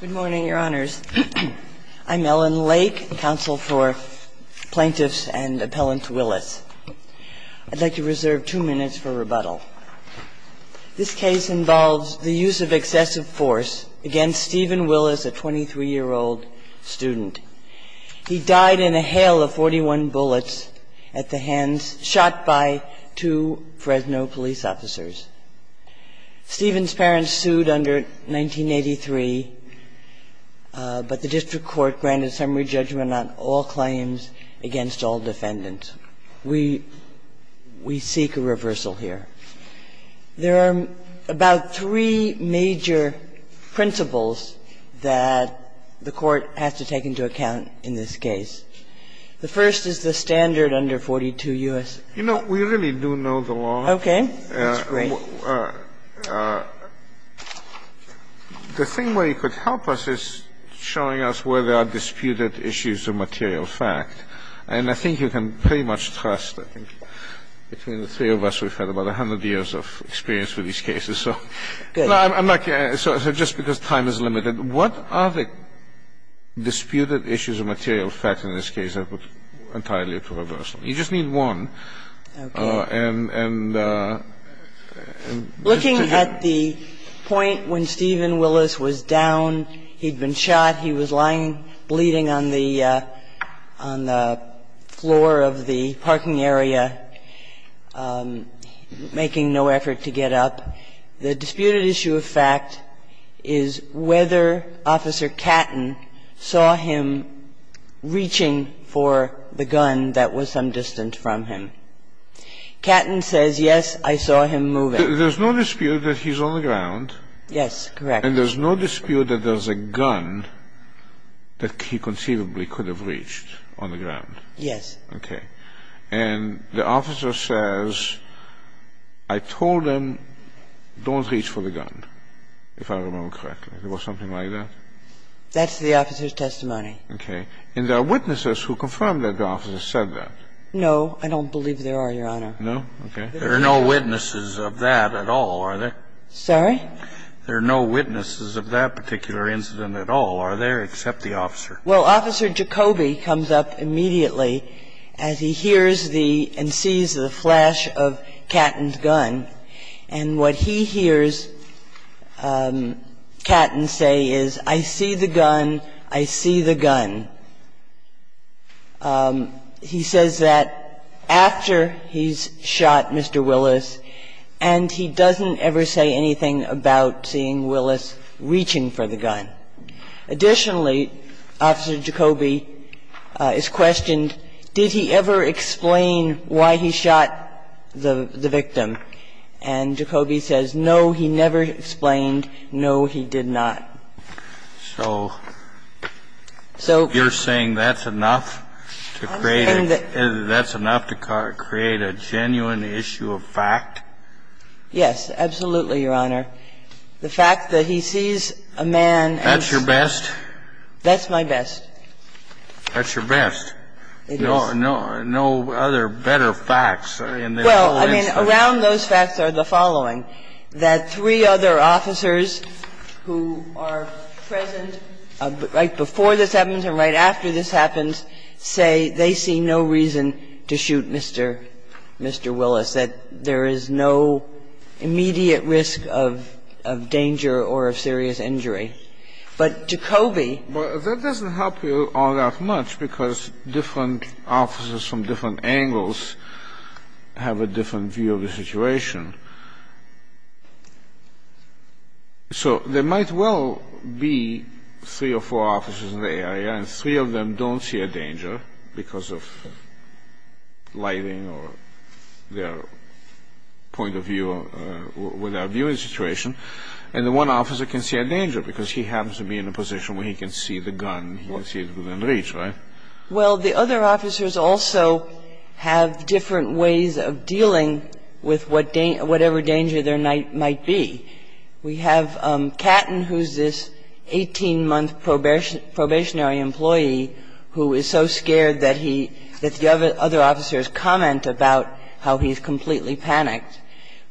Good morning, Your Honors. I'm Ellen Lake, counsel for plaintiffs and appellant Willis. I'd like to reserve two minutes for rebuttal. This case involves the use of excessive force against Stephen Willis, a 23-year-old student. He died in a hail of 41 bullets at the hands of two Fresno police officers. Stephen's parents sued under 1983, but the district court granted summary judgment on all claims against all defendants. We seek a reversal here. There are about three major principles that the court has to take into account in this case. The first is the standard under 42 U.S. You know, we really do know the law. Okay. That's great. The thing where you could help us is showing us where there are disputed issues of material fact. And I think you can pretty much trust, I think, between the three of us, we've had about 100 years of experience with these cases. Good. No, I'm not going to. So just because time is limited, what are the disputed issues of material fact in this case that would entirely prove a version? You just need one. Okay. And just to give you an idea. Looking at the point when Stephen Willis was down, he'd been shot, he was lying bleeding on the floor of the parking area, making no effort to get up. The disputed issue of fact is whether Officer Catton saw him reaching for the gun that was some distance from him. Catton says, yes, I saw him move it. There's no dispute that he's on the ground. Yes, correct. And there's no dispute that there's a gun that he conceivably could have reached on the ground. Yes. Okay. And the officer says, I told him, don't reach for the gun, if I remember correctly. It was something like that? That's the officer's testimony. Okay. And there are witnesses who confirm that the officer said that. No, I don't believe there are, Your Honor. No? Okay. There are no witnesses of that at all, are there? There are no witnesses of that particular incident at all, are there, except the officer? Well, Officer Jacoby comes up immediately as he hears the and sees the flash of Catton's gun, and what he hears Catton say is, I see the gun, I see the gun. He says that after he's shot Mr. Willis, and he doesn't ever say anything about the gun. Additionally, Officer Jacoby is questioned, did he ever explain why he shot the victim? And Jacoby says, no, he never explained, no, he did not. So you're saying that's enough to create a genuine issue of fact? Yes, absolutely, Your Honor. The fact that he sees a man and says... That's your best? That's my best. That's your best? It is. No other better facts in this whole instance? Well, I mean, around those facts are the following. That three other officers who are present right before this happens and right after this happens say they see no reason to shoot Mr. Willis, that there is no immediate risk of danger or of serious injury. But Jacoby... Well, that doesn't help you all that much because different officers from different angles have a different view of the situation. So there might well be three or four officers in the area and three of them don't see a danger. And the one officer can see a danger because he happens to be in a position where he can see the gun within reach, right? Well, the other officers also have different ways of dealing with whatever danger there might be. We have Catton, who is this 18-month probationary employee who is so scared that the other officers comment about how he's completely panicked.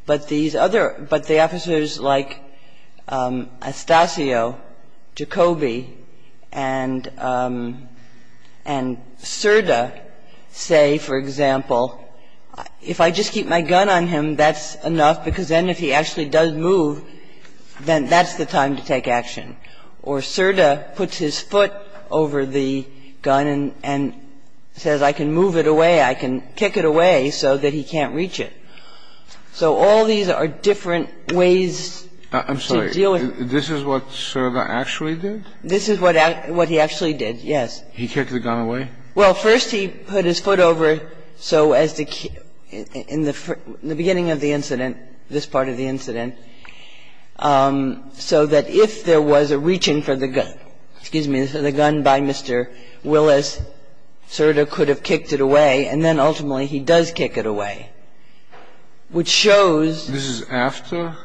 But these other – but the officers like Astacio, Jacoby, and Cerda say, for example, if I just keep my gun on him, that's enough because then if he actually does move, then that's the time to take action. Or Cerda puts his foot over the gun and says, I can move it away, I can kick it away so that he can't reach it. So all these are different ways to deal with – I'm sorry. This is what Cerda actually did? This is what he actually did, yes. He kicked the gun away? Well, first he put his foot over so as to – in the beginning of the incident, this part of the incident, so that if there was a reaching for the gun, excuse me, for the gun by Mr. Willis, Cerda could have kicked it away, and then ultimately he does kick it away. Which shows – This is after?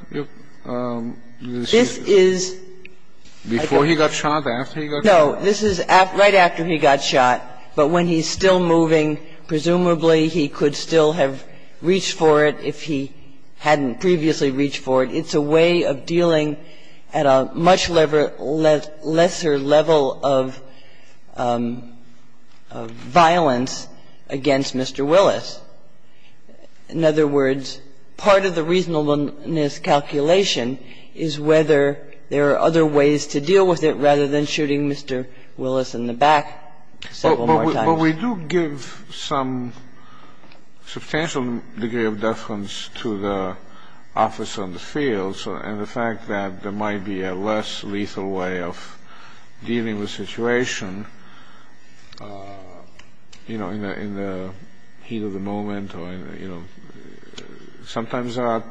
This is – Before he got shot, after he got shot? No. This is right after he got shot. But when he's still moving, presumably he could still have reached for it if he hadn't previously reached for it. It's a way of dealing at a much lesser level of violence against Mr. Willis. In other words, part of the reasonableness calculation is whether there are other ways to deal with it rather than shooting Mr. Willis in the back several more times. But we do give some substantial degree of deference to the officer on the field, and the fact that there might be a less lethal way of dealing with a situation in the heat of the moment or, you know, sometimes there are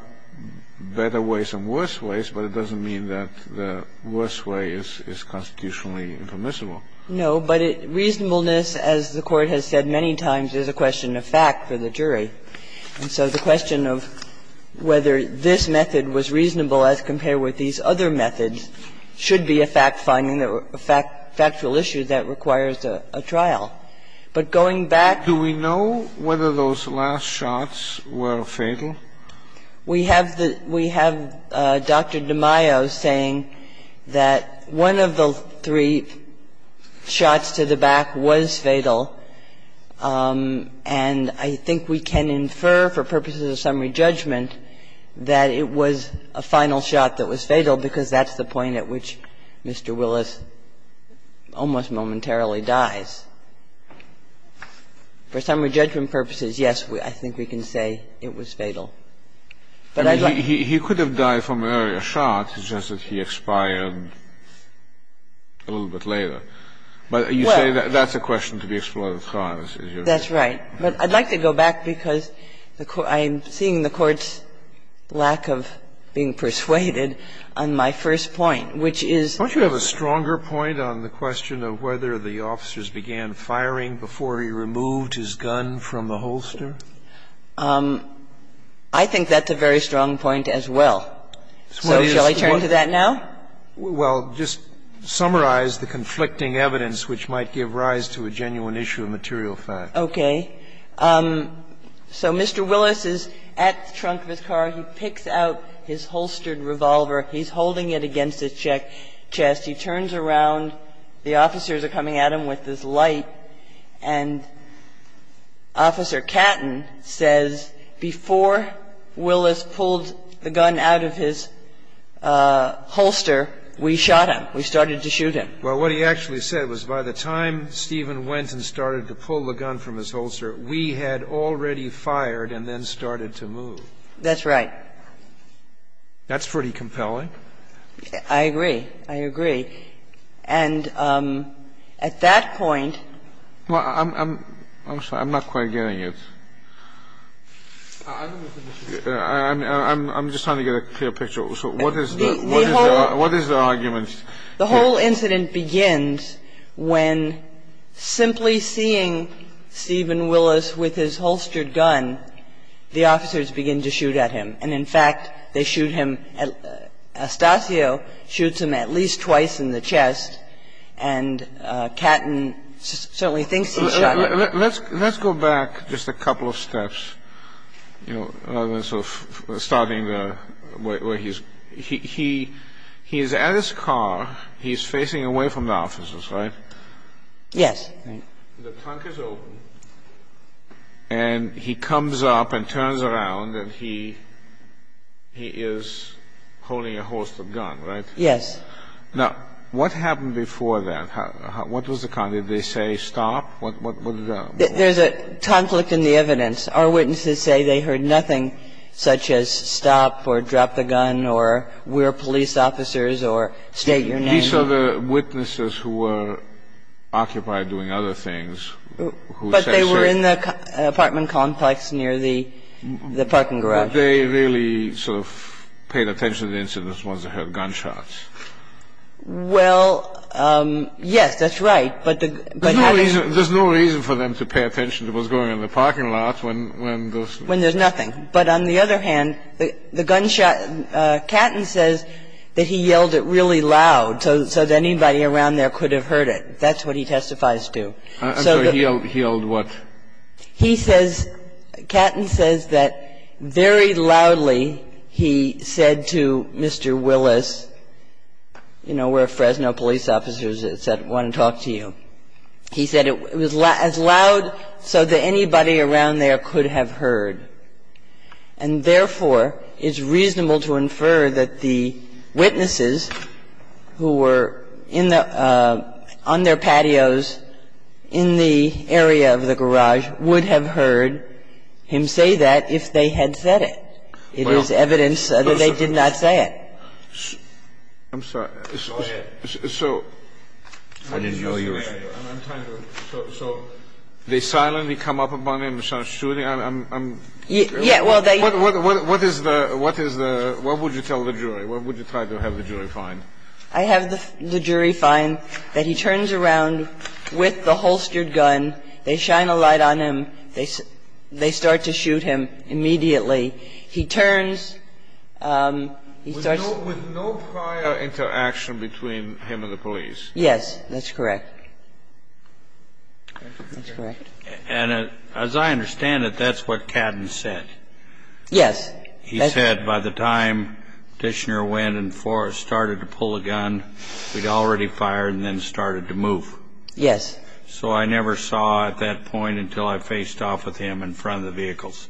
better ways and worse ways, but it doesn't mean that the worse way is constitutionally impermissible. No. But reasonableness, as the Court has said many times, is a question of fact for the jury. And so the question of whether this method was reasonable as compared with these other methods should be a fact-finding, a factual issue that requires a trial. But going back to the... Do we know whether those last shots were fatal? We have the Dr. DiMaio saying that one of the three shots to the back was fatal, and I think we can infer for purposes of summary judgment that it was a final shot that was fatal because that's the point at which Mr. Willis almost momentarily dies. For summary judgment purposes, yes, I think we can say it was fatal. But I'd like... He could have died from an earlier shot. It's just that he expired a little bit later. But you say that's a question to be explored at heart. That's right. But I'd like to go back, because I'm seeing the Court's lack of being persuaded on my first point, which is... Don't you have a stronger point on the question of whether the officers began firing before he removed his gun from the holster? I think that's a very strong point as well. So shall I turn to that now? Well, just summarize the conflicting evidence which might give rise to a genuine issue of material fact. Okay. So Mr. Willis is at the trunk of his car. He picks out his holstered revolver. He's holding it against his chest. He turns around. The officers are coming at him with this light, and Officer Catton says, before Willis pulled the gun out of his holster, we shot him. We started to shoot him. Well, what he actually said was, by the time Stephen went and started to pull the gun from his holster, we had already fired and then started to move. That's right. That's pretty compelling. I agree. I agree. And at that point... Well, I'm sorry. I'm not quite getting it. I'm just trying to get a clear picture. So what is the argument? The whole incident begins when simply seeing Stephen Willis with his holstered gun, the officers begin to shoot at him. And in fact, they shoot him. Astacio shoots him at least twice in the chest, and Catton certainly thinks he shot him. Let's go back just a couple of steps, you know, rather than sort of starting where he's at. He's at his car. He's facing away from the officers, right? Yes. The trunk is open, and he comes up and turns around, and he is holding a holstered gun, right? Yes. Now, what happened before that? What was the condition? Did they say stop? There's a conflict in the evidence. Our witnesses say they heard nothing such as stop or drop the gun or we're police officers or state your name. These are the witnesses who were occupied doing other things. But they were in the apartment complex near the parking garage. But they really sort of paid attention to the incidents once they heard gunshots. Well, yes, that's right. But there's no reason for them to pay attention to what's going on in the parking lot when there's nothing. But on the other hand, the gunshot, Catton says that he yelled it really loud so that anybody around there could have heard it. That's what he testifies to. So he yelled what? He says, Catton says that very loudly he said to Mr. Willis, you know, we're Fresno police officers that want to talk to you. He said it was as loud so that anybody around there could have heard. And therefore, it's reasonable to infer that the witnesses who were in the – on their patios in the area of the garage would have heard him say that if they had said it. It is evidence that they did not say it. I'm sorry. Go ahead. I didn't hear you. I'm trying to – so they silently come up on him and start shooting. I'm – I'm – Yeah, well, they – What is the – what is the – what would you tell the jury? What would you try to have the jury find? I have the jury find that he turns around with the holstered gun, they shine a light on him, they start to shoot him immediately. He turns – he starts – With no prior interaction between him and the police. Yes, that's correct. That's correct. And as I understand it, that's what Cadden said. Yes. He said by the time Dishner went and started to pull a gun, we'd already fired and then started to move. Yes. So I never saw at that point until I faced off with him in front of the vehicles,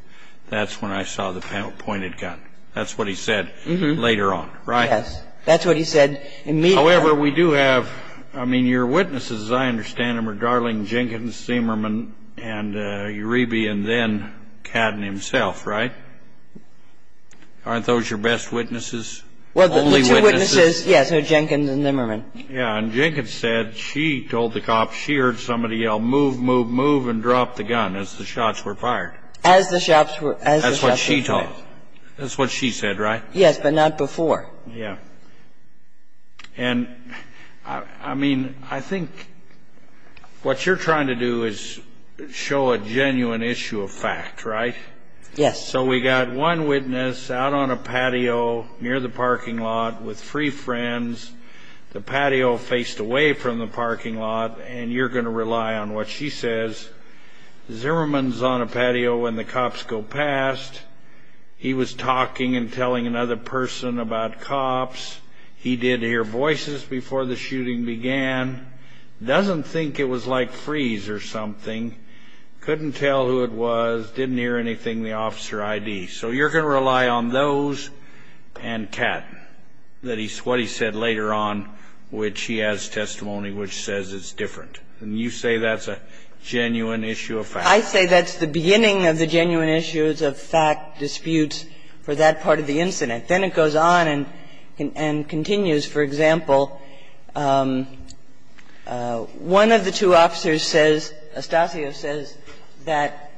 that's when I saw the pointed gun. That's what he said later on, right? Yes. That's what he said immediately. However, we do have – I mean, your witnesses, as I understand them, are Darling Jenkins, Zimmerman, and Uribe, and then Cadden himself, right? Aren't those your best witnesses? Only witnesses? Well, the two witnesses, yes, are Jenkins and Zimmerman. Yeah, and Jenkins said she told the cops she heard somebody yell, move, move, move, and drop the gun as the shots were fired. As the shots were – That's what she told. That's what she said, right? Yes, but not before. Yeah. And, I mean, I think what you're trying to do is show a genuine issue of fact, right? Yes. So we got one witness out on a patio near the parking lot with three friends. The patio faced away from the parking lot, and you're going to rely on what she says. Zimmerman's on a patio when the cops go past. He was talking and telling another person about cops. He did hear voices before the shooting began. Doesn't think it was like freeze or something. Couldn't tell who it was. Didn't hear anything, the officer ID. So you're going to rely on those and Cadden, what he said later on, which he has testimony which says it's different. And you say that's a genuine issue of fact. I say that's the beginning of the genuine issues of fact disputes for that part of the incident. Then it goes on and continues. For example, one of the two officers says, Astacio says, that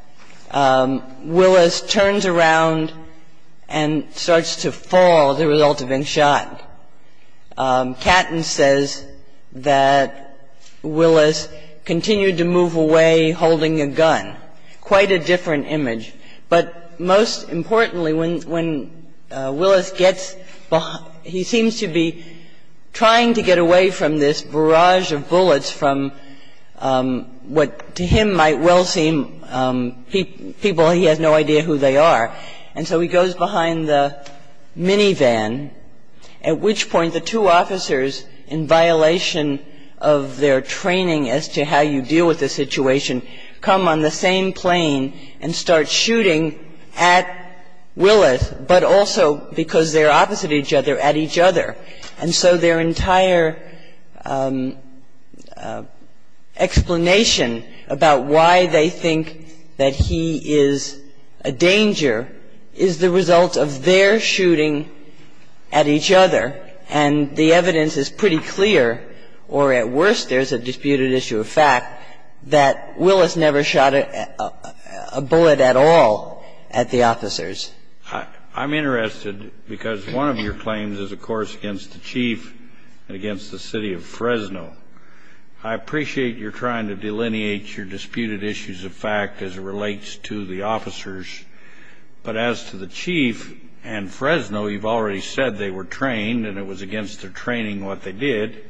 Willis turns around and starts to fall as a result of being shot. Cadden says that Willis continued to move away holding a gun. Quite a different image. But most importantly, when Willis gets behind he seems to be trying to get away from this barrage of bullets from what to him might well seem people he has no idea who they are. And so he goes behind the minivan, at which point the two officers, in violation of their training as to how you deal with a situation, come on the same plane and start shooting at Willis, but also because they're opposite each other, at each other. And so their entire explanation about why they think that he is a danger is the result of their shooting at each other, and the evidence is pretty clear, or at worst, there's a disputed issue of fact, that Willis never shot a bullet at all at the officers. I'm interested, because one of your claims is, of course, against the Chief and against the City of Fresno. I appreciate you're trying to delineate your disputed issues of fact as it relates to the officers, but as to the Chief and Fresno, you've already said they were trained and it was against their training what they did.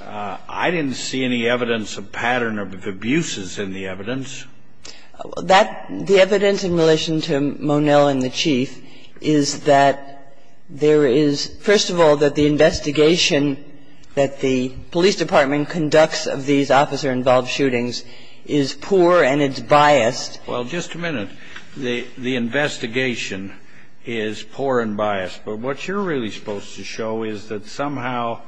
I didn't see any evidence of pattern of abuses in the evidence. The evidence in relation to Monell and the Chief is that there is, first of all, that the investigation that the police department conducts of these officer-involved shootings is poor and it's biased. Well, just a minute. The investigation is poor and biased. But what you're really supposed to show is that somehow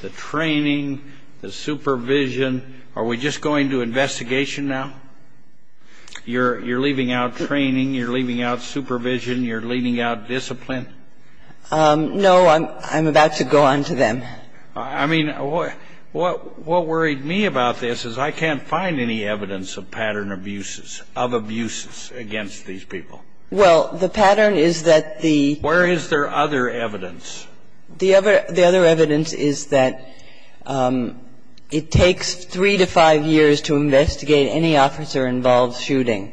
the training, the supervision are we just going to investigation now? You're leaving out training, you're leaving out supervision, you're leaving out discipline? No. I'm about to go on to them. I mean, what worried me about this is I can't find any evidence of pattern abuses, of abuses against these people. Well, the pattern is that the Where is there other evidence? The other evidence is that it takes three to five years to investigate any officer-involved shooting.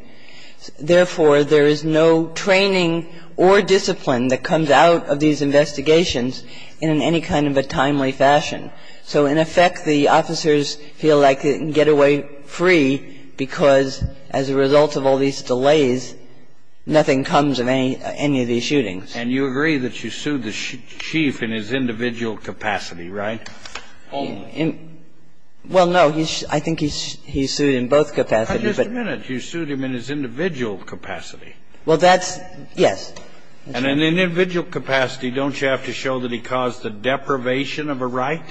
Therefore, there is no training or discipline that comes out of these investigations in any kind of a timely fashion. So in effect, the officers feel like they can get away free because as a result of all these delays, nothing comes of any of these shootings. And you agree that you sued the chief in his individual capacity, right? Only. Well, no. I think he's sued in both capacities. But just a minute. You sued him in his individual capacity. Well, that's yes. And in the individual capacity, don't you have to show that he caused the deprivation of a right?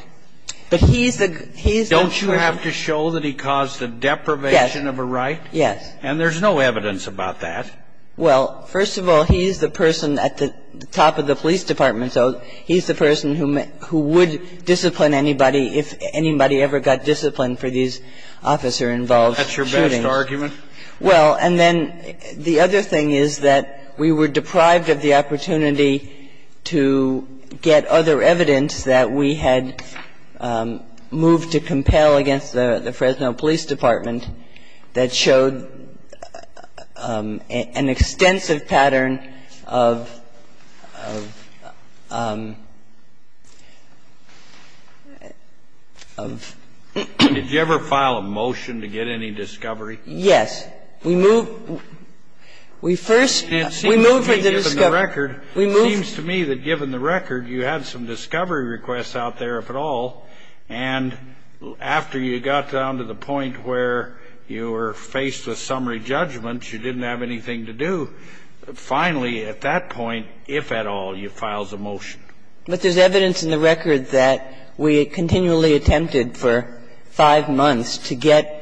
But he's the, he's the person. Don't you have to show that he caused the deprivation of a right? Yes. And there's no evidence about that. Well, first of all, he's the person at the top of the police department. So he's the person who would discipline anybody if anybody ever got disciplined for these officer-involved shootings. That's your best argument? Well, and then the other thing is that we were deprived of the opportunity to get other evidence that we had moved to compel against the Fresno Police Department that showed an extensive pattern of, of, of. Did you ever file a motion to get any discovery? Yes. We moved, we first, we moved for the discovery. It seems to me that given the record, you had some discovery requests out there, if at all. And after you got down to the point where you were faced with summary judgments, you didn't have anything to do. Finally, at that point, if at all, you filed a motion. But there's evidence in the record that we continually attempted for five months to get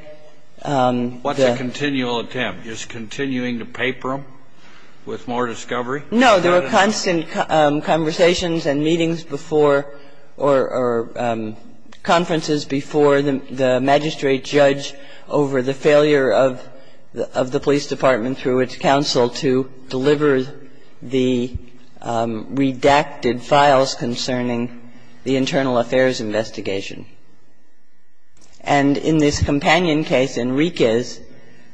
the What's a continual attempt? Just continuing to paper them with more discovery? No, there were constant conversations and meetings before or conferences before the magistrate judge over the failure of the police department through its counsel to deliver the redacted files concerning the internal affairs investigation. And in this companion case, Enriquez,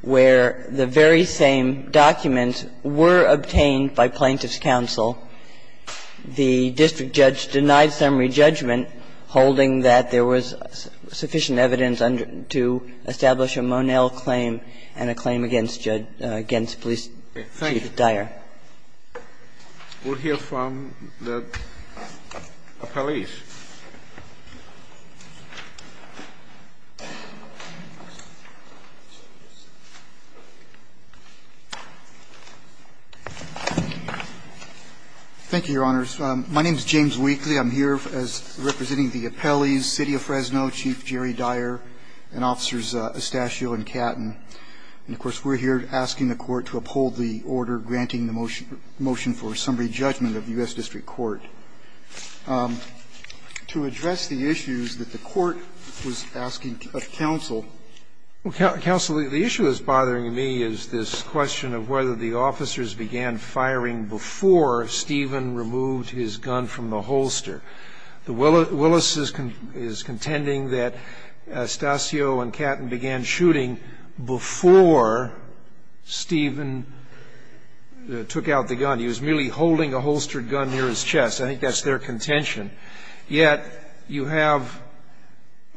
where the very same documents were obtained by plaintiff's counsel, the district judge denied summary judgment holding that there was sufficient evidence to establish a Monell claim and a claim against police chief Dyer. We'll hear from the appellees. Mr. Weakley. Thank you, Your Honors. My name is James Weakley. I'm here representing the appellees, City of Fresno, Chief Jerry Dyer, and Officers Estacio and Catton. And, of course, we're here asking the Court to uphold the order granting the motion for summary judgment of the U.S. District Court. To address the issues that the Court was asking of counsel. Counsel, the issue that's bothering me is this question of whether the officers began firing before Stephen removed his gun from the holster. Willis is contending that Estacio and Catton began shooting before Stephen took out the gun. He was merely holding a holstered gun near his chest. I think that's their contention. Yet you have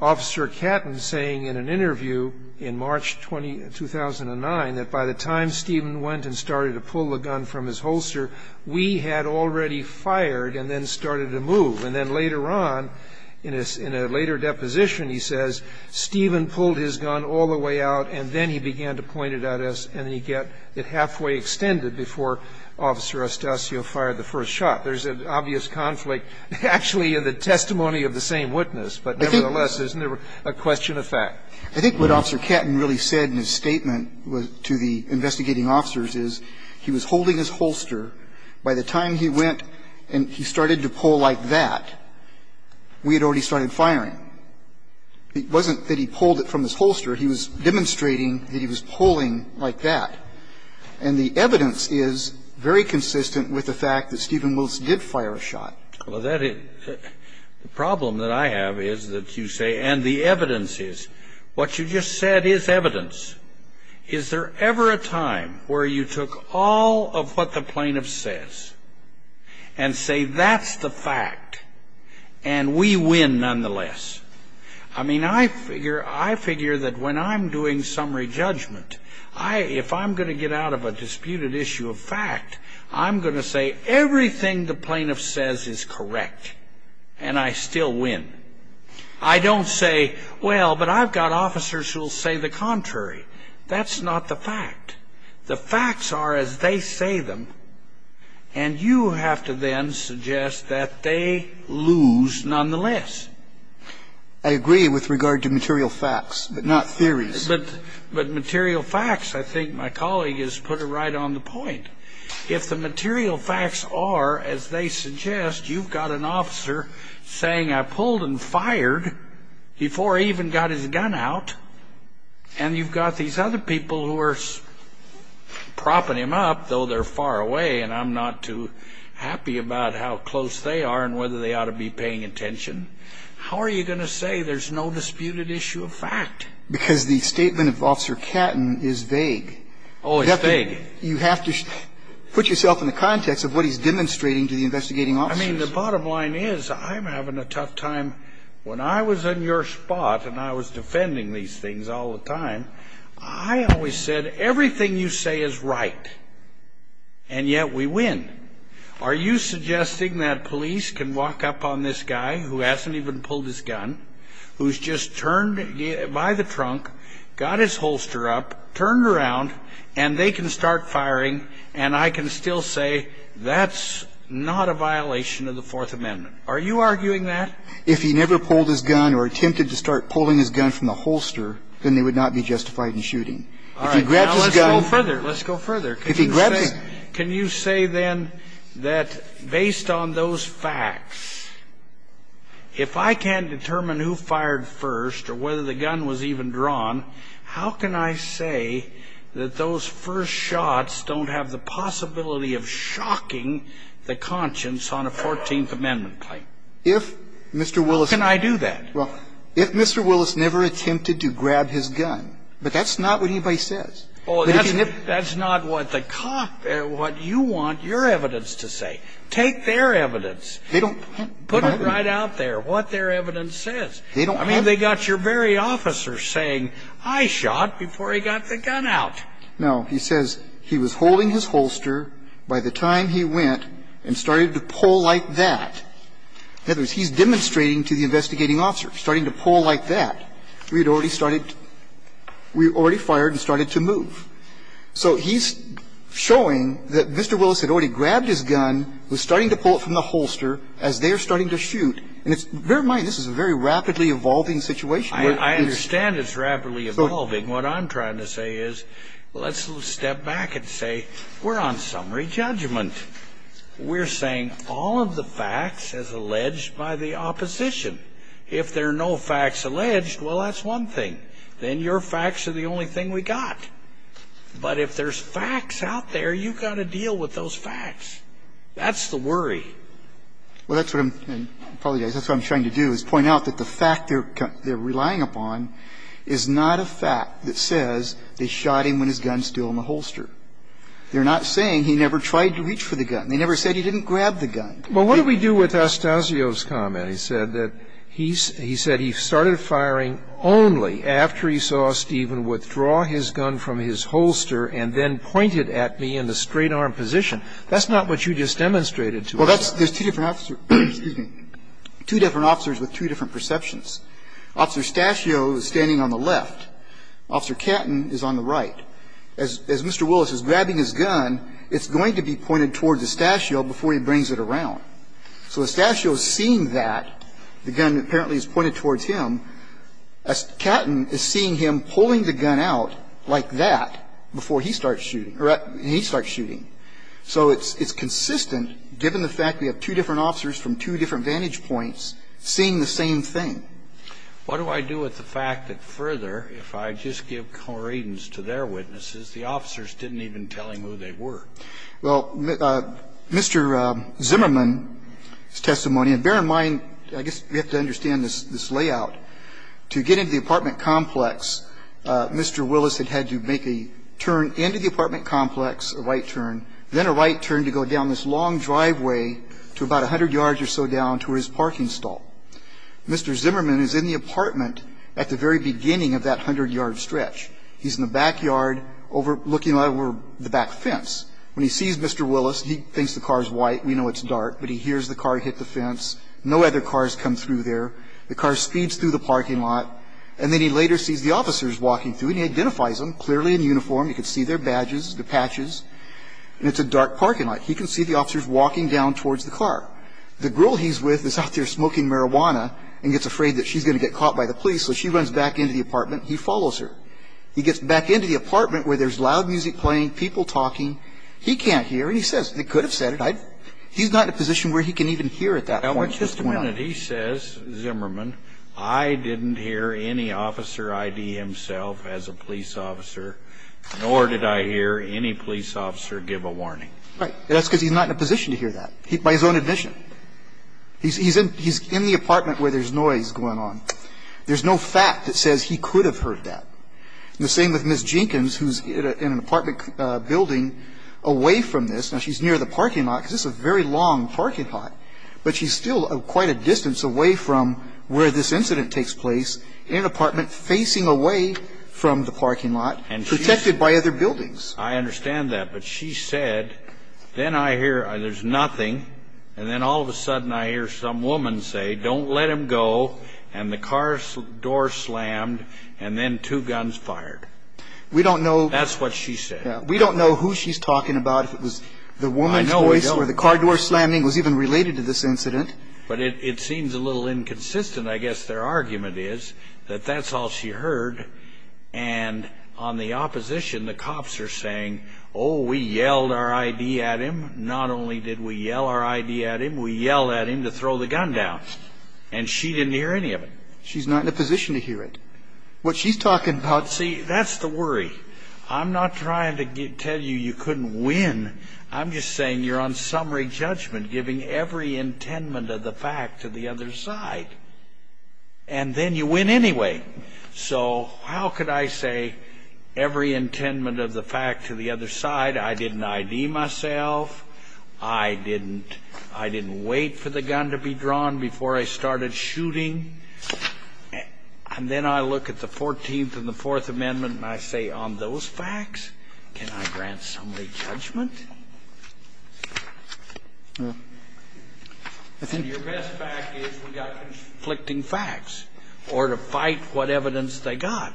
Officer Catton saying in an interview in March 2009 that by the time Stephen went and started to pull the gun from his holster, we had already fired and then started to move. And then later on, in a later deposition, he says Stephen pulled his gun all the way out, and then he began to point it at us, and he got it halfway extended before Officer Estacio fired the first shot. There's an obvious conflict actually in the testimony of the same witness. But nevertheless, isn't there a question of fact? I think what Officer Catton really said in his statement to the investigating officers is he was holding his holster. By the time he went and he started to pull like that, we had already started firing. It wasn't that he pulled it from his holster. He was demonstrating that he was pulling like that. And the evidence is very consistent with the fact that Stephen Wills did fire a shot. Well, that is the problem that I have is that you say, and the evidence is, what you just said is evidence. Is there ever a time where you took all of what the plaintiff says and say that's the fact, and we win nonetheless? I mean, I figure that when I'm doing summary judgment, if I'm going to get out of a disputed issue of fact, I'm going to say everything the plaintiff says is correct, and I still win. I don't say, well, but I've got officers who will say the contrary. That's not the fact. The facts are as they say them, and you have to then suggest that they lose nonetheless. I agree with regard to material facts, but not theories. But material facts, I think my colleague has put it right on the point. If the material facts are as they suggest, you've got an officer saying I pulled and out, and you've got these other people who are propping him up, though they're far away and I'm not too happy about how close they are and whether they ought to be paying attention, how are you going to say there's no disputed issue of fact? Because the statement of Officer Catton is vague. Oh, it's vague. You have to put yourself in the context of what he's demonstrating to the investigating officers. I mean, the bottom line is I'm having a tough time. When I was on your spot and I was defending these things all the time, I always said everything you say is right, and yet we win. Are you suggesting that police can walk up on this guy who hasn't even pulled his gun, who's just turned by the trunk, got his holster up, turned around, and they can start firing, and I can still say that's not a violation of the Fourth Amendment? Are you arguing that? If he never pulled his gun or attempted to start pulling his gun from the holster, then they would not be justified in shooting. If he grabs his gun. All right. Now, let's go further. Let's go further. If he grabs it. Can you say then that based on those facts, if I can't determine who fired first or whether the gun was even drawn, how can I say that those first shots don't have the possibility of shocking the conscience on a Fourteenth Amendment claim? If Mr. Willis. How can I do that? Well, if Mr. Willis never attempted to grab his gun, but that's not what anybody says. Oh, that's not what the cop, what you want your evidence to say. Take their evidence. They don't. Put it right out there, what their evidence says. They don't have. I mean, they got your very officer saying, I shot before he got the gun out. No. He says he was holding his holster by the time he went and started to pull like that. In other words, he's demonstrating to the investigating officer. Starting to pull like that. We had already started. We had already fired and started to move. So he's showing that Mr. Willis had already grabbed his gun, was starting to pull it from the holster as they are starting to shoot. And bear in mind, this is a very rapidly evolving situation. I understand it's rapidly evolving. What I'm trying to say is let's step back and say we're on summary judgment. We're saying all of the facts as alleged by the opposition. If there are no facts alleged, well, that's one thing. Then your facts are the only thing we got. But if there's facts out there, you've got to deal with those facts. That's the worry. Well, that's what I'm trying to do is point out that the fact they're relying upon is not a fact that says they shot him when his gun's still in the holster. They're not saying he never tried to reach for the gun. They never said he didn't grab the gun. But what do we do with Astacio's comment? He said that he's he said he started firing only after he saw Stephen withdraw his gun from his holster and then pointed at me in the straight-arm position. That's not what you just demonstrated to us. Well, that's there's two different officers. Excuse me. Two different officers with two different perceptions. Officer Astacio is standing on the left. Officer Catton is on the right. As Mr. Willis is grabbing his gun, it's going to be pointed towards Astacio before he brings it around. So Astacio is seeing that. The gun apparently is pointed towards him. Catton is seeing him pulling the gun out like that before he starts shooting or he starts shooting. So it's consistent given the fact we have two different officers from two different vantage points seeing the same thing. What do I do with the fact that further, if I just give co-readings to their witnesses, the officers didn't even tell him who they were? Well, Mr. Zimmerman's testimony, and bear in mind, I guess we have to understand this layout. To get into the apartment complex, Mr. Willis had had to make a turn into the apartment complex, a right turn, then a right turn to go down this long driveway to about 100 yards or so down to his parking stall. Mr. Zimmerman is in the apartment at the very beginning of that 100-yard stretch. He's in the backyard overlooking the back fence. When he sees Mr. Willis, he thinks the car is white. We know it's dark. But he hears the car hit the fence. No other cars come through there. The car speeds through the parking lot. And then he later sees the officers walking through, and he identifies them clearly in uniform. You can see their badges, the patches. And it's a dark parking lot. He can see the officers walking down towards the car. The girl he's with is out there smoking marijuana and gets afraid that she's going to get caught by the police. So she runs back into the apartment. He follows her. He gets back into the apartment where there's loud music playing, people talking. He can't hear. And he says, they could have said it. He's not in a position where he can even hear at that point. Just a minute. He says, Zimmerman, I didn't hear any officer ID himself as a police officer, nor did I hear any police officer give a warning. Right. That's because he's not in a position to hear that. By his own admission. He's in the apartment where there's noise going on. There's no fact that says he could have heard that. The same with Ms. Jenkins, who's in an apartment building away from this. Now, she's near the parking lot, because this is a very long parking lot. But she's still quite a distance away from where this incident takes place, in an apartment facing away from the parking lot, protected by other buildings. I understand that. But she said, then I hear, there's nothing, and then all of a sudden I hear some woman say, don't let him go, and the car door slammed, and then two guns fired. We don't know... That's what she said. We don't know who she's talking about, if it was the woman's voice, or the car door slamming was even related to this incident. But it seems a little inconsistent, I guess their argument is, that that's all she heard, and on the opposition, the cops are saying, oh, we yelled our I.D. at him. Not only did we yell our I.D. at him, we yelled at him to throw the gun down. And she didn't hear any of it. She's not in a position to hear it. What she's talking about... See, that's the worry. I'm not trying to tell you you couldn't win. I'm just saying you're on summary judgment, giving every intendment of the fact to the other side. And then you win anyway. So how could I say every intendment of the fact to the other side? I didn't I.D. myself. I didn't wait for the gun to be drawn before I started shooting. And then I look at the 14th and the Fourth Amendment, and I say, on those facts, can I grant summary judgment? And your best bet is we've got conflicting facts or to fight what evidence they got.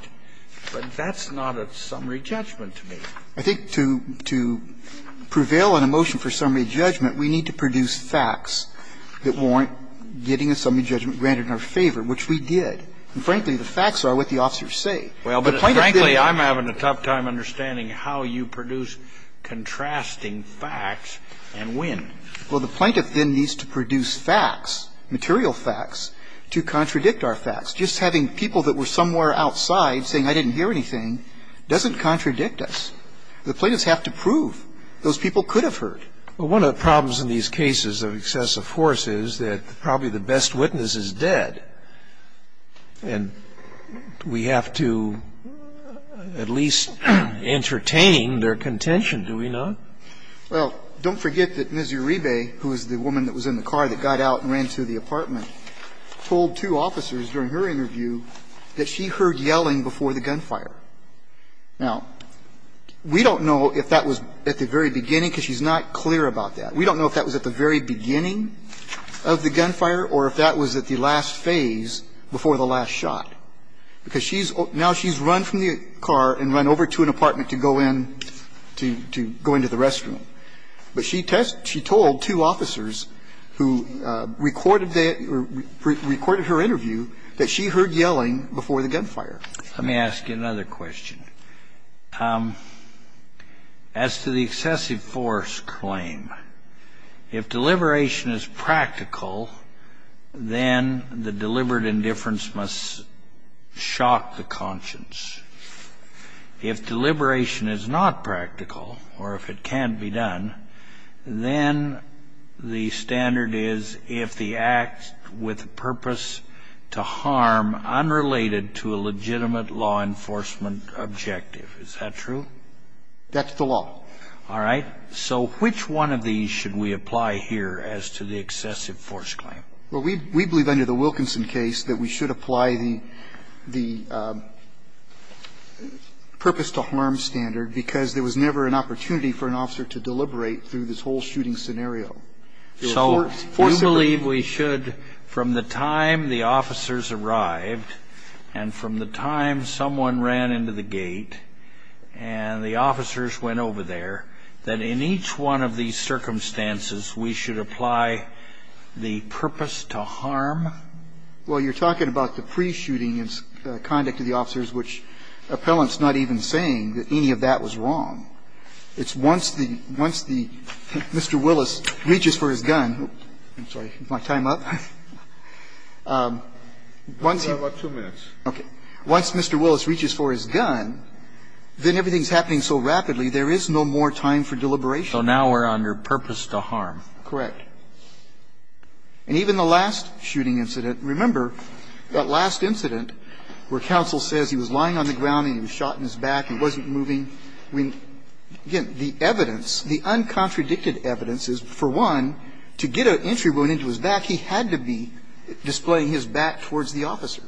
But that's not a summary judgment to me. I think to prevail on a motion for summary judgment, we need to produce facts that warrant getting a summary judgment granted in our favor, which we did. And frankly, the facts are what the officers say. Well, but frankly, I'm having a tough time understanding how you produce contrasting facts and win. Well, the plaintiff then needs to produce facts, material facts, to contradict our facts. Just having people that were somewhere outside saying I didn't hear anything doesn't contradict us. The plaintiffs have to prove those people could have heard. Well, one of the problems in these cases of excessive force is that probably the best witness is dead. And we have to at least entertain their contention, do we not? Well, don't forget that Ms. Uribe, who was the woman that was in the car that got out and ran to the apartment, told two officers during her interview that she heard yelling before the gunfire. Now, we don't know if that was at the very beginning, because she's not clear about that. We don't know if that was at the very beginning of the gunfire or if that was at the last phase before the last shot, because she's now she's run from the car and run over to an apartment to go in to go into the restroom. But she told two officers who recorded her interview that she heard yelling before the gunfire. Let me ask you another question. As to the excessive force claim, if deliberation is practical, then the deliberate indifference must shock the conscience. If deliberation is not practical or if it can't be done, then the standard is if the act with purpose to harm unrelated to a legitimate law enforcement objective. Is that true? That's the law. All right. So which one of these should we apply here as to the excessive force claim? Well, we believe under the Wilkinson case that we should apply the purpose to harm standard because there was never an opportunity for an officer to deliberate through this whole shooting scenario. So you believe we should, from the time the officers arrived and from the time someone ran into the gate and the officers went over there, that in each one of these circumstances we should apply the purpose to harm? Well, you're talking about the pre-shooting conduct of the officers, which the appellant is not even saying that any of that was wrong. It's once the Mr. Willis reaches for his gun. I'm sorry. Is my time up? Once he... You have about two minutes. Okay. Once Mr. Willis reaches for his gun, then everything is happening so rapidly there is no more time for deliberation. So now we're under purpose to harm. Correct. And even the last shooting incident, remember that last incident where counsel says he was lying on the ground and he was shot in his back and wasn't moving. Again, the evidence, the uncontradicted evidence is, for one, to get an entry wound into his back, he had to be displaying his back towards the officer.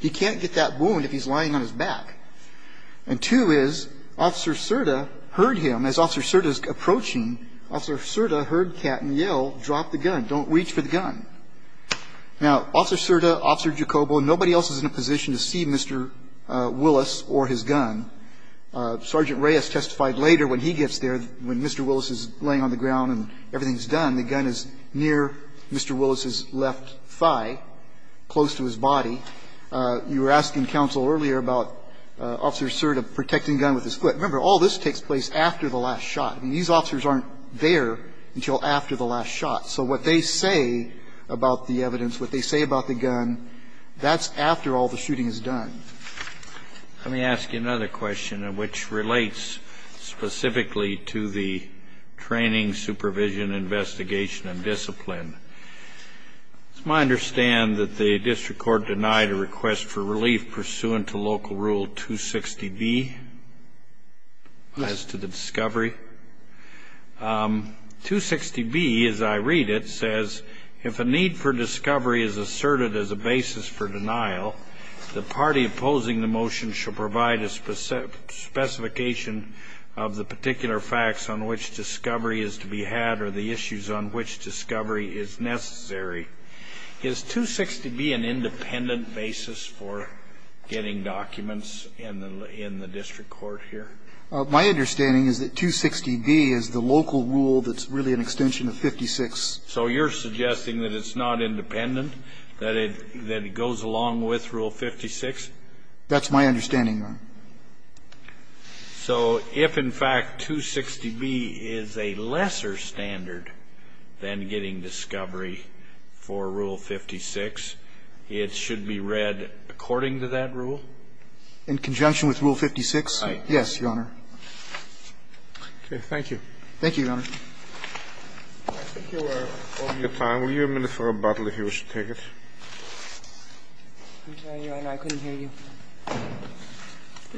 He can't get that wound if he's lying on his back. And two is Officer Cerda heard him. As Officer Cerda is approaching, Officer Cerda heard Catton yell, drop the gun. Don't reach for the gun. Now, Officer Cerda, Officer Jacobo, nobody else is in a position to see Mr. Willis or his gun. Sergeant Reyes testified later when he gets there, when Mr. Willis is laying on the ground and everything is done, the gun is near Mr. Willis's left thigh, close to his body. You were asking counsel earlier about Officer Cerda protecting gun with his foot. Remember, all this takes place after the last shot. I mean, these officers aren't there until after the last shot. So what they say about the evidence, what they say about the gun, that's after all the shooting is done. Let me ask you another question, which relates specifically to the training, supervision, investigation, and discipline. It's my understand that the district court denied a request for relief pursuant to local rule 260B as to the discovery. 260B, as I read it, says, if a need for discovery is asserted as a basis for denial, the party opposing the motion shall provide a specification of the particular facts on which discovery is to be had or the issues on which discovery is to be assessed. Is 260B an independent basis for getting documents in the district court here? My understanding is that 260B is the local rule that's really an extension of 56. So you're suggesting that it's not independent, that it goes along with Rule 56? That's my understanding, Your Honor. So if, in fact, 260B is a lesser standard than getting discovery for Rule 56, it should be read according to that rule? In conjunction with Rule 56? Yes, Your Honor. Okay. Thank you. Thank you, Your Honor. I think you are over your time. Will you a minute for a bottle if you wish to take it? I'm sorry, Your Honor. I couldn't hear you.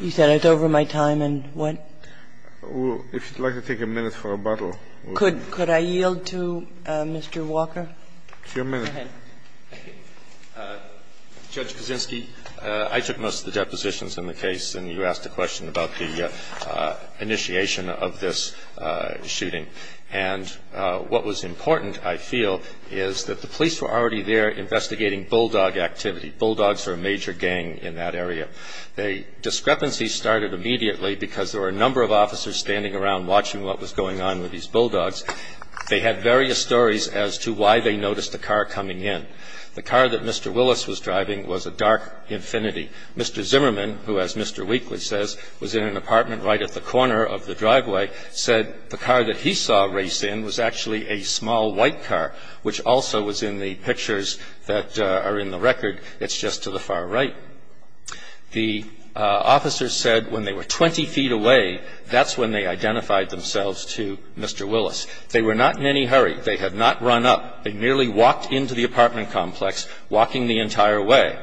You said it's over my time and what? Well, if you'd like to take a minute for a bottle. Could I yield to Mr. Walker? It's your minute. Go ahead. Judge Kaczynski, I took most of the depositions in the case, and you asked a question about the initiation of this shooting. And what was important, I feel, is that the police were already there investigating bulldog activity. Bulldogs are a major gang in that area. The discrepancy started immediately because there were a number of officers standing around watching what was going on with these bulldogs. They had various stories as to why they noticed a car coming in. The car that Mr. Willis was driving was a dark Infiniti. Mr. Zimmerman, who, as Mr. Wheatley says, was in an apartment right at the corner of the driveway, said the car that he saw race in was actually a small white car, which also was in the pictures that are in the record. It's just to the far right. The officers said when they were 20 feet away, that's when they identified themselves to Mr. Willis. They were not in any hurry. They had not run up. They merely walked into the apartment complex, walking the entire way.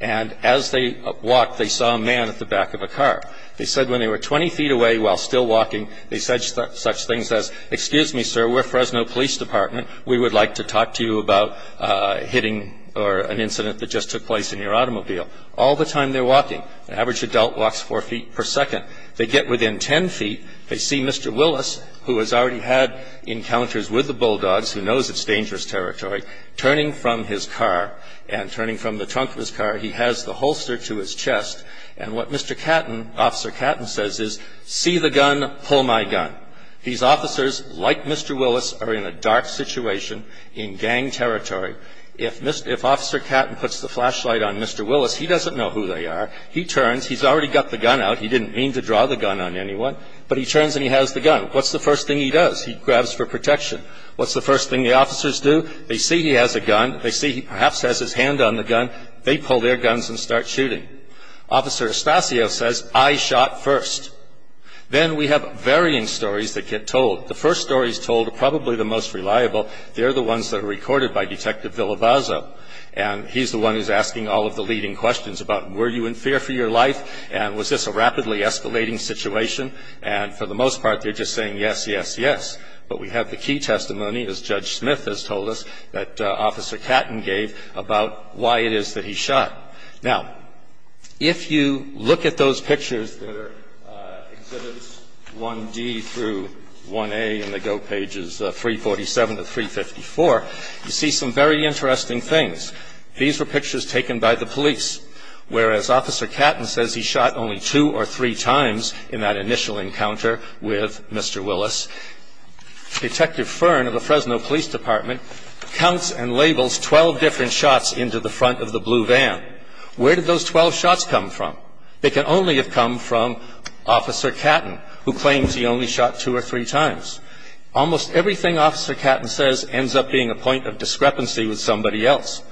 And as they walked, they saw a man at the back of a car. They said when they were 20 feet away while still walking, they said such things as, excuse me, sir, we're Fresno Police Department. We would like to talk to you about hitting or an incident that just took place in your automobile. All the time they're walking. An average adult walks four feet per second. They get within ten feet. They see Mr. Willis, who has already had encounters with the bulldogs, who knows it's dangerous territory, turning from his car and turning from the trunk of his car. He has the holster to his chest. And what Mr. Catton, Officer Catton, says is, see the gun, pull my gun. These officers, like Mr. Willis, are in a dark situation in gang territory. If Officer Catton puts the flashlight on Mr. Willis, he doesn't know who they are. He turns. He's already got the gun out. He didn't mean to draw the gun on anyone. But he turns and he has the gun. What's the first thing he does? He grabs for protection. What's the first thing the officers do? They see he has a gun. They see he perhaps has his hand on the gun. They pull their guns and start shooting. Officer Estacio says, I shot first. Then we have varying stories that get told. The first stories told are probably the most reliable. They're the ones that are recorded by Detective Villabaza, and he's the one who's asking all of the leading questions about, were you in fear for your life? And was this a rapidly escalating situation? And for the most part, they're just saying, yes, yes, yes. But we have the key testimony, as Judge Smith has told us, that Officer Catton gave about why it is that he shot. Now, if you look at those pictures that are Exhibits 1D through 1A in the GO Pages 347 to 354, you see some very interesting things. These were pictures taken by the police, whereas Officer Catton says he shot only two or three times in that initial encounter with Mr. Willis. Detective Fern of the Fresno Police Department counts and labels 12 different shots into the front of the blue van. Where did those 12 shots come from? They can only have come from Officer Catton, who claims he only shot two or three times. Almost everything Officer Catton says ends up being a point of discrepancy with somebody else.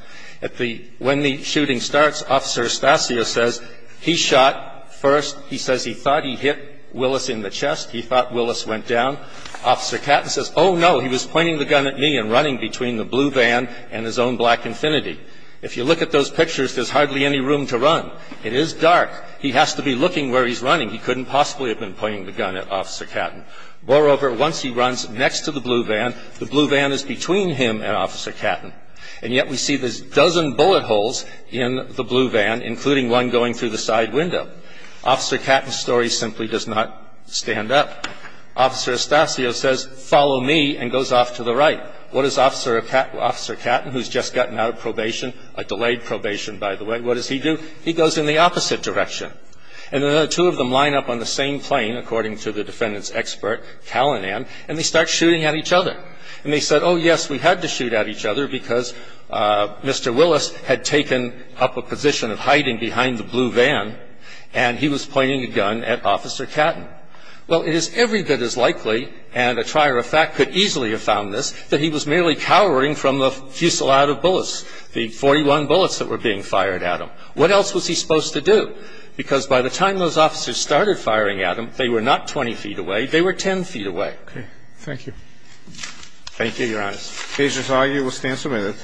When the shooting starts, Officer Estacio says, he shot first. He says he thought he hit Willis in the chest. He thought Willis went down. Officer Catton says, oh, no, he was pointing the gun at me and running between the blue van and his own black Infiniti. If you look at those pictures, there's hardly any room to run. It is dark. He has to be looking where he's running. He couldn't possibly have been pointing the gun at Officer Catton. Moreover, once he runs next to the blue van, the blue van is between him and Officer Catton. And yet we see there's a dozen bullet holes in the blue van, including one going through the side window. Officer Catton's story simply does not stand up. Officer Estacio says, follow me, and goes off to the right. What does Officer Catton, who's just gotten out of probation, a delayed probation, by the way, what does he do? He goes in the opposite direction. And the two of them line up on the same plane, according to the defendant's expert, Calinan, and they start shooting at each other. And they said, oh, yes, we had to shoot at each other because Mr. Willis had taken up a position of hiding behind the blue van. And he was pointing a gun at Officer Catton. Well, it is every bit as likely, and a trier of fact could easily have found this, that he was merely cowering from the fusillade of bullets, the 41 bullets that were being fired at him. What else was he supposed to do? Because by the time those officers started firing at him, they were not 20 feet away. They were 10 feet away. Okay. Thank you. Thank you, Your Honor. Agents, all of you will stand for a minute.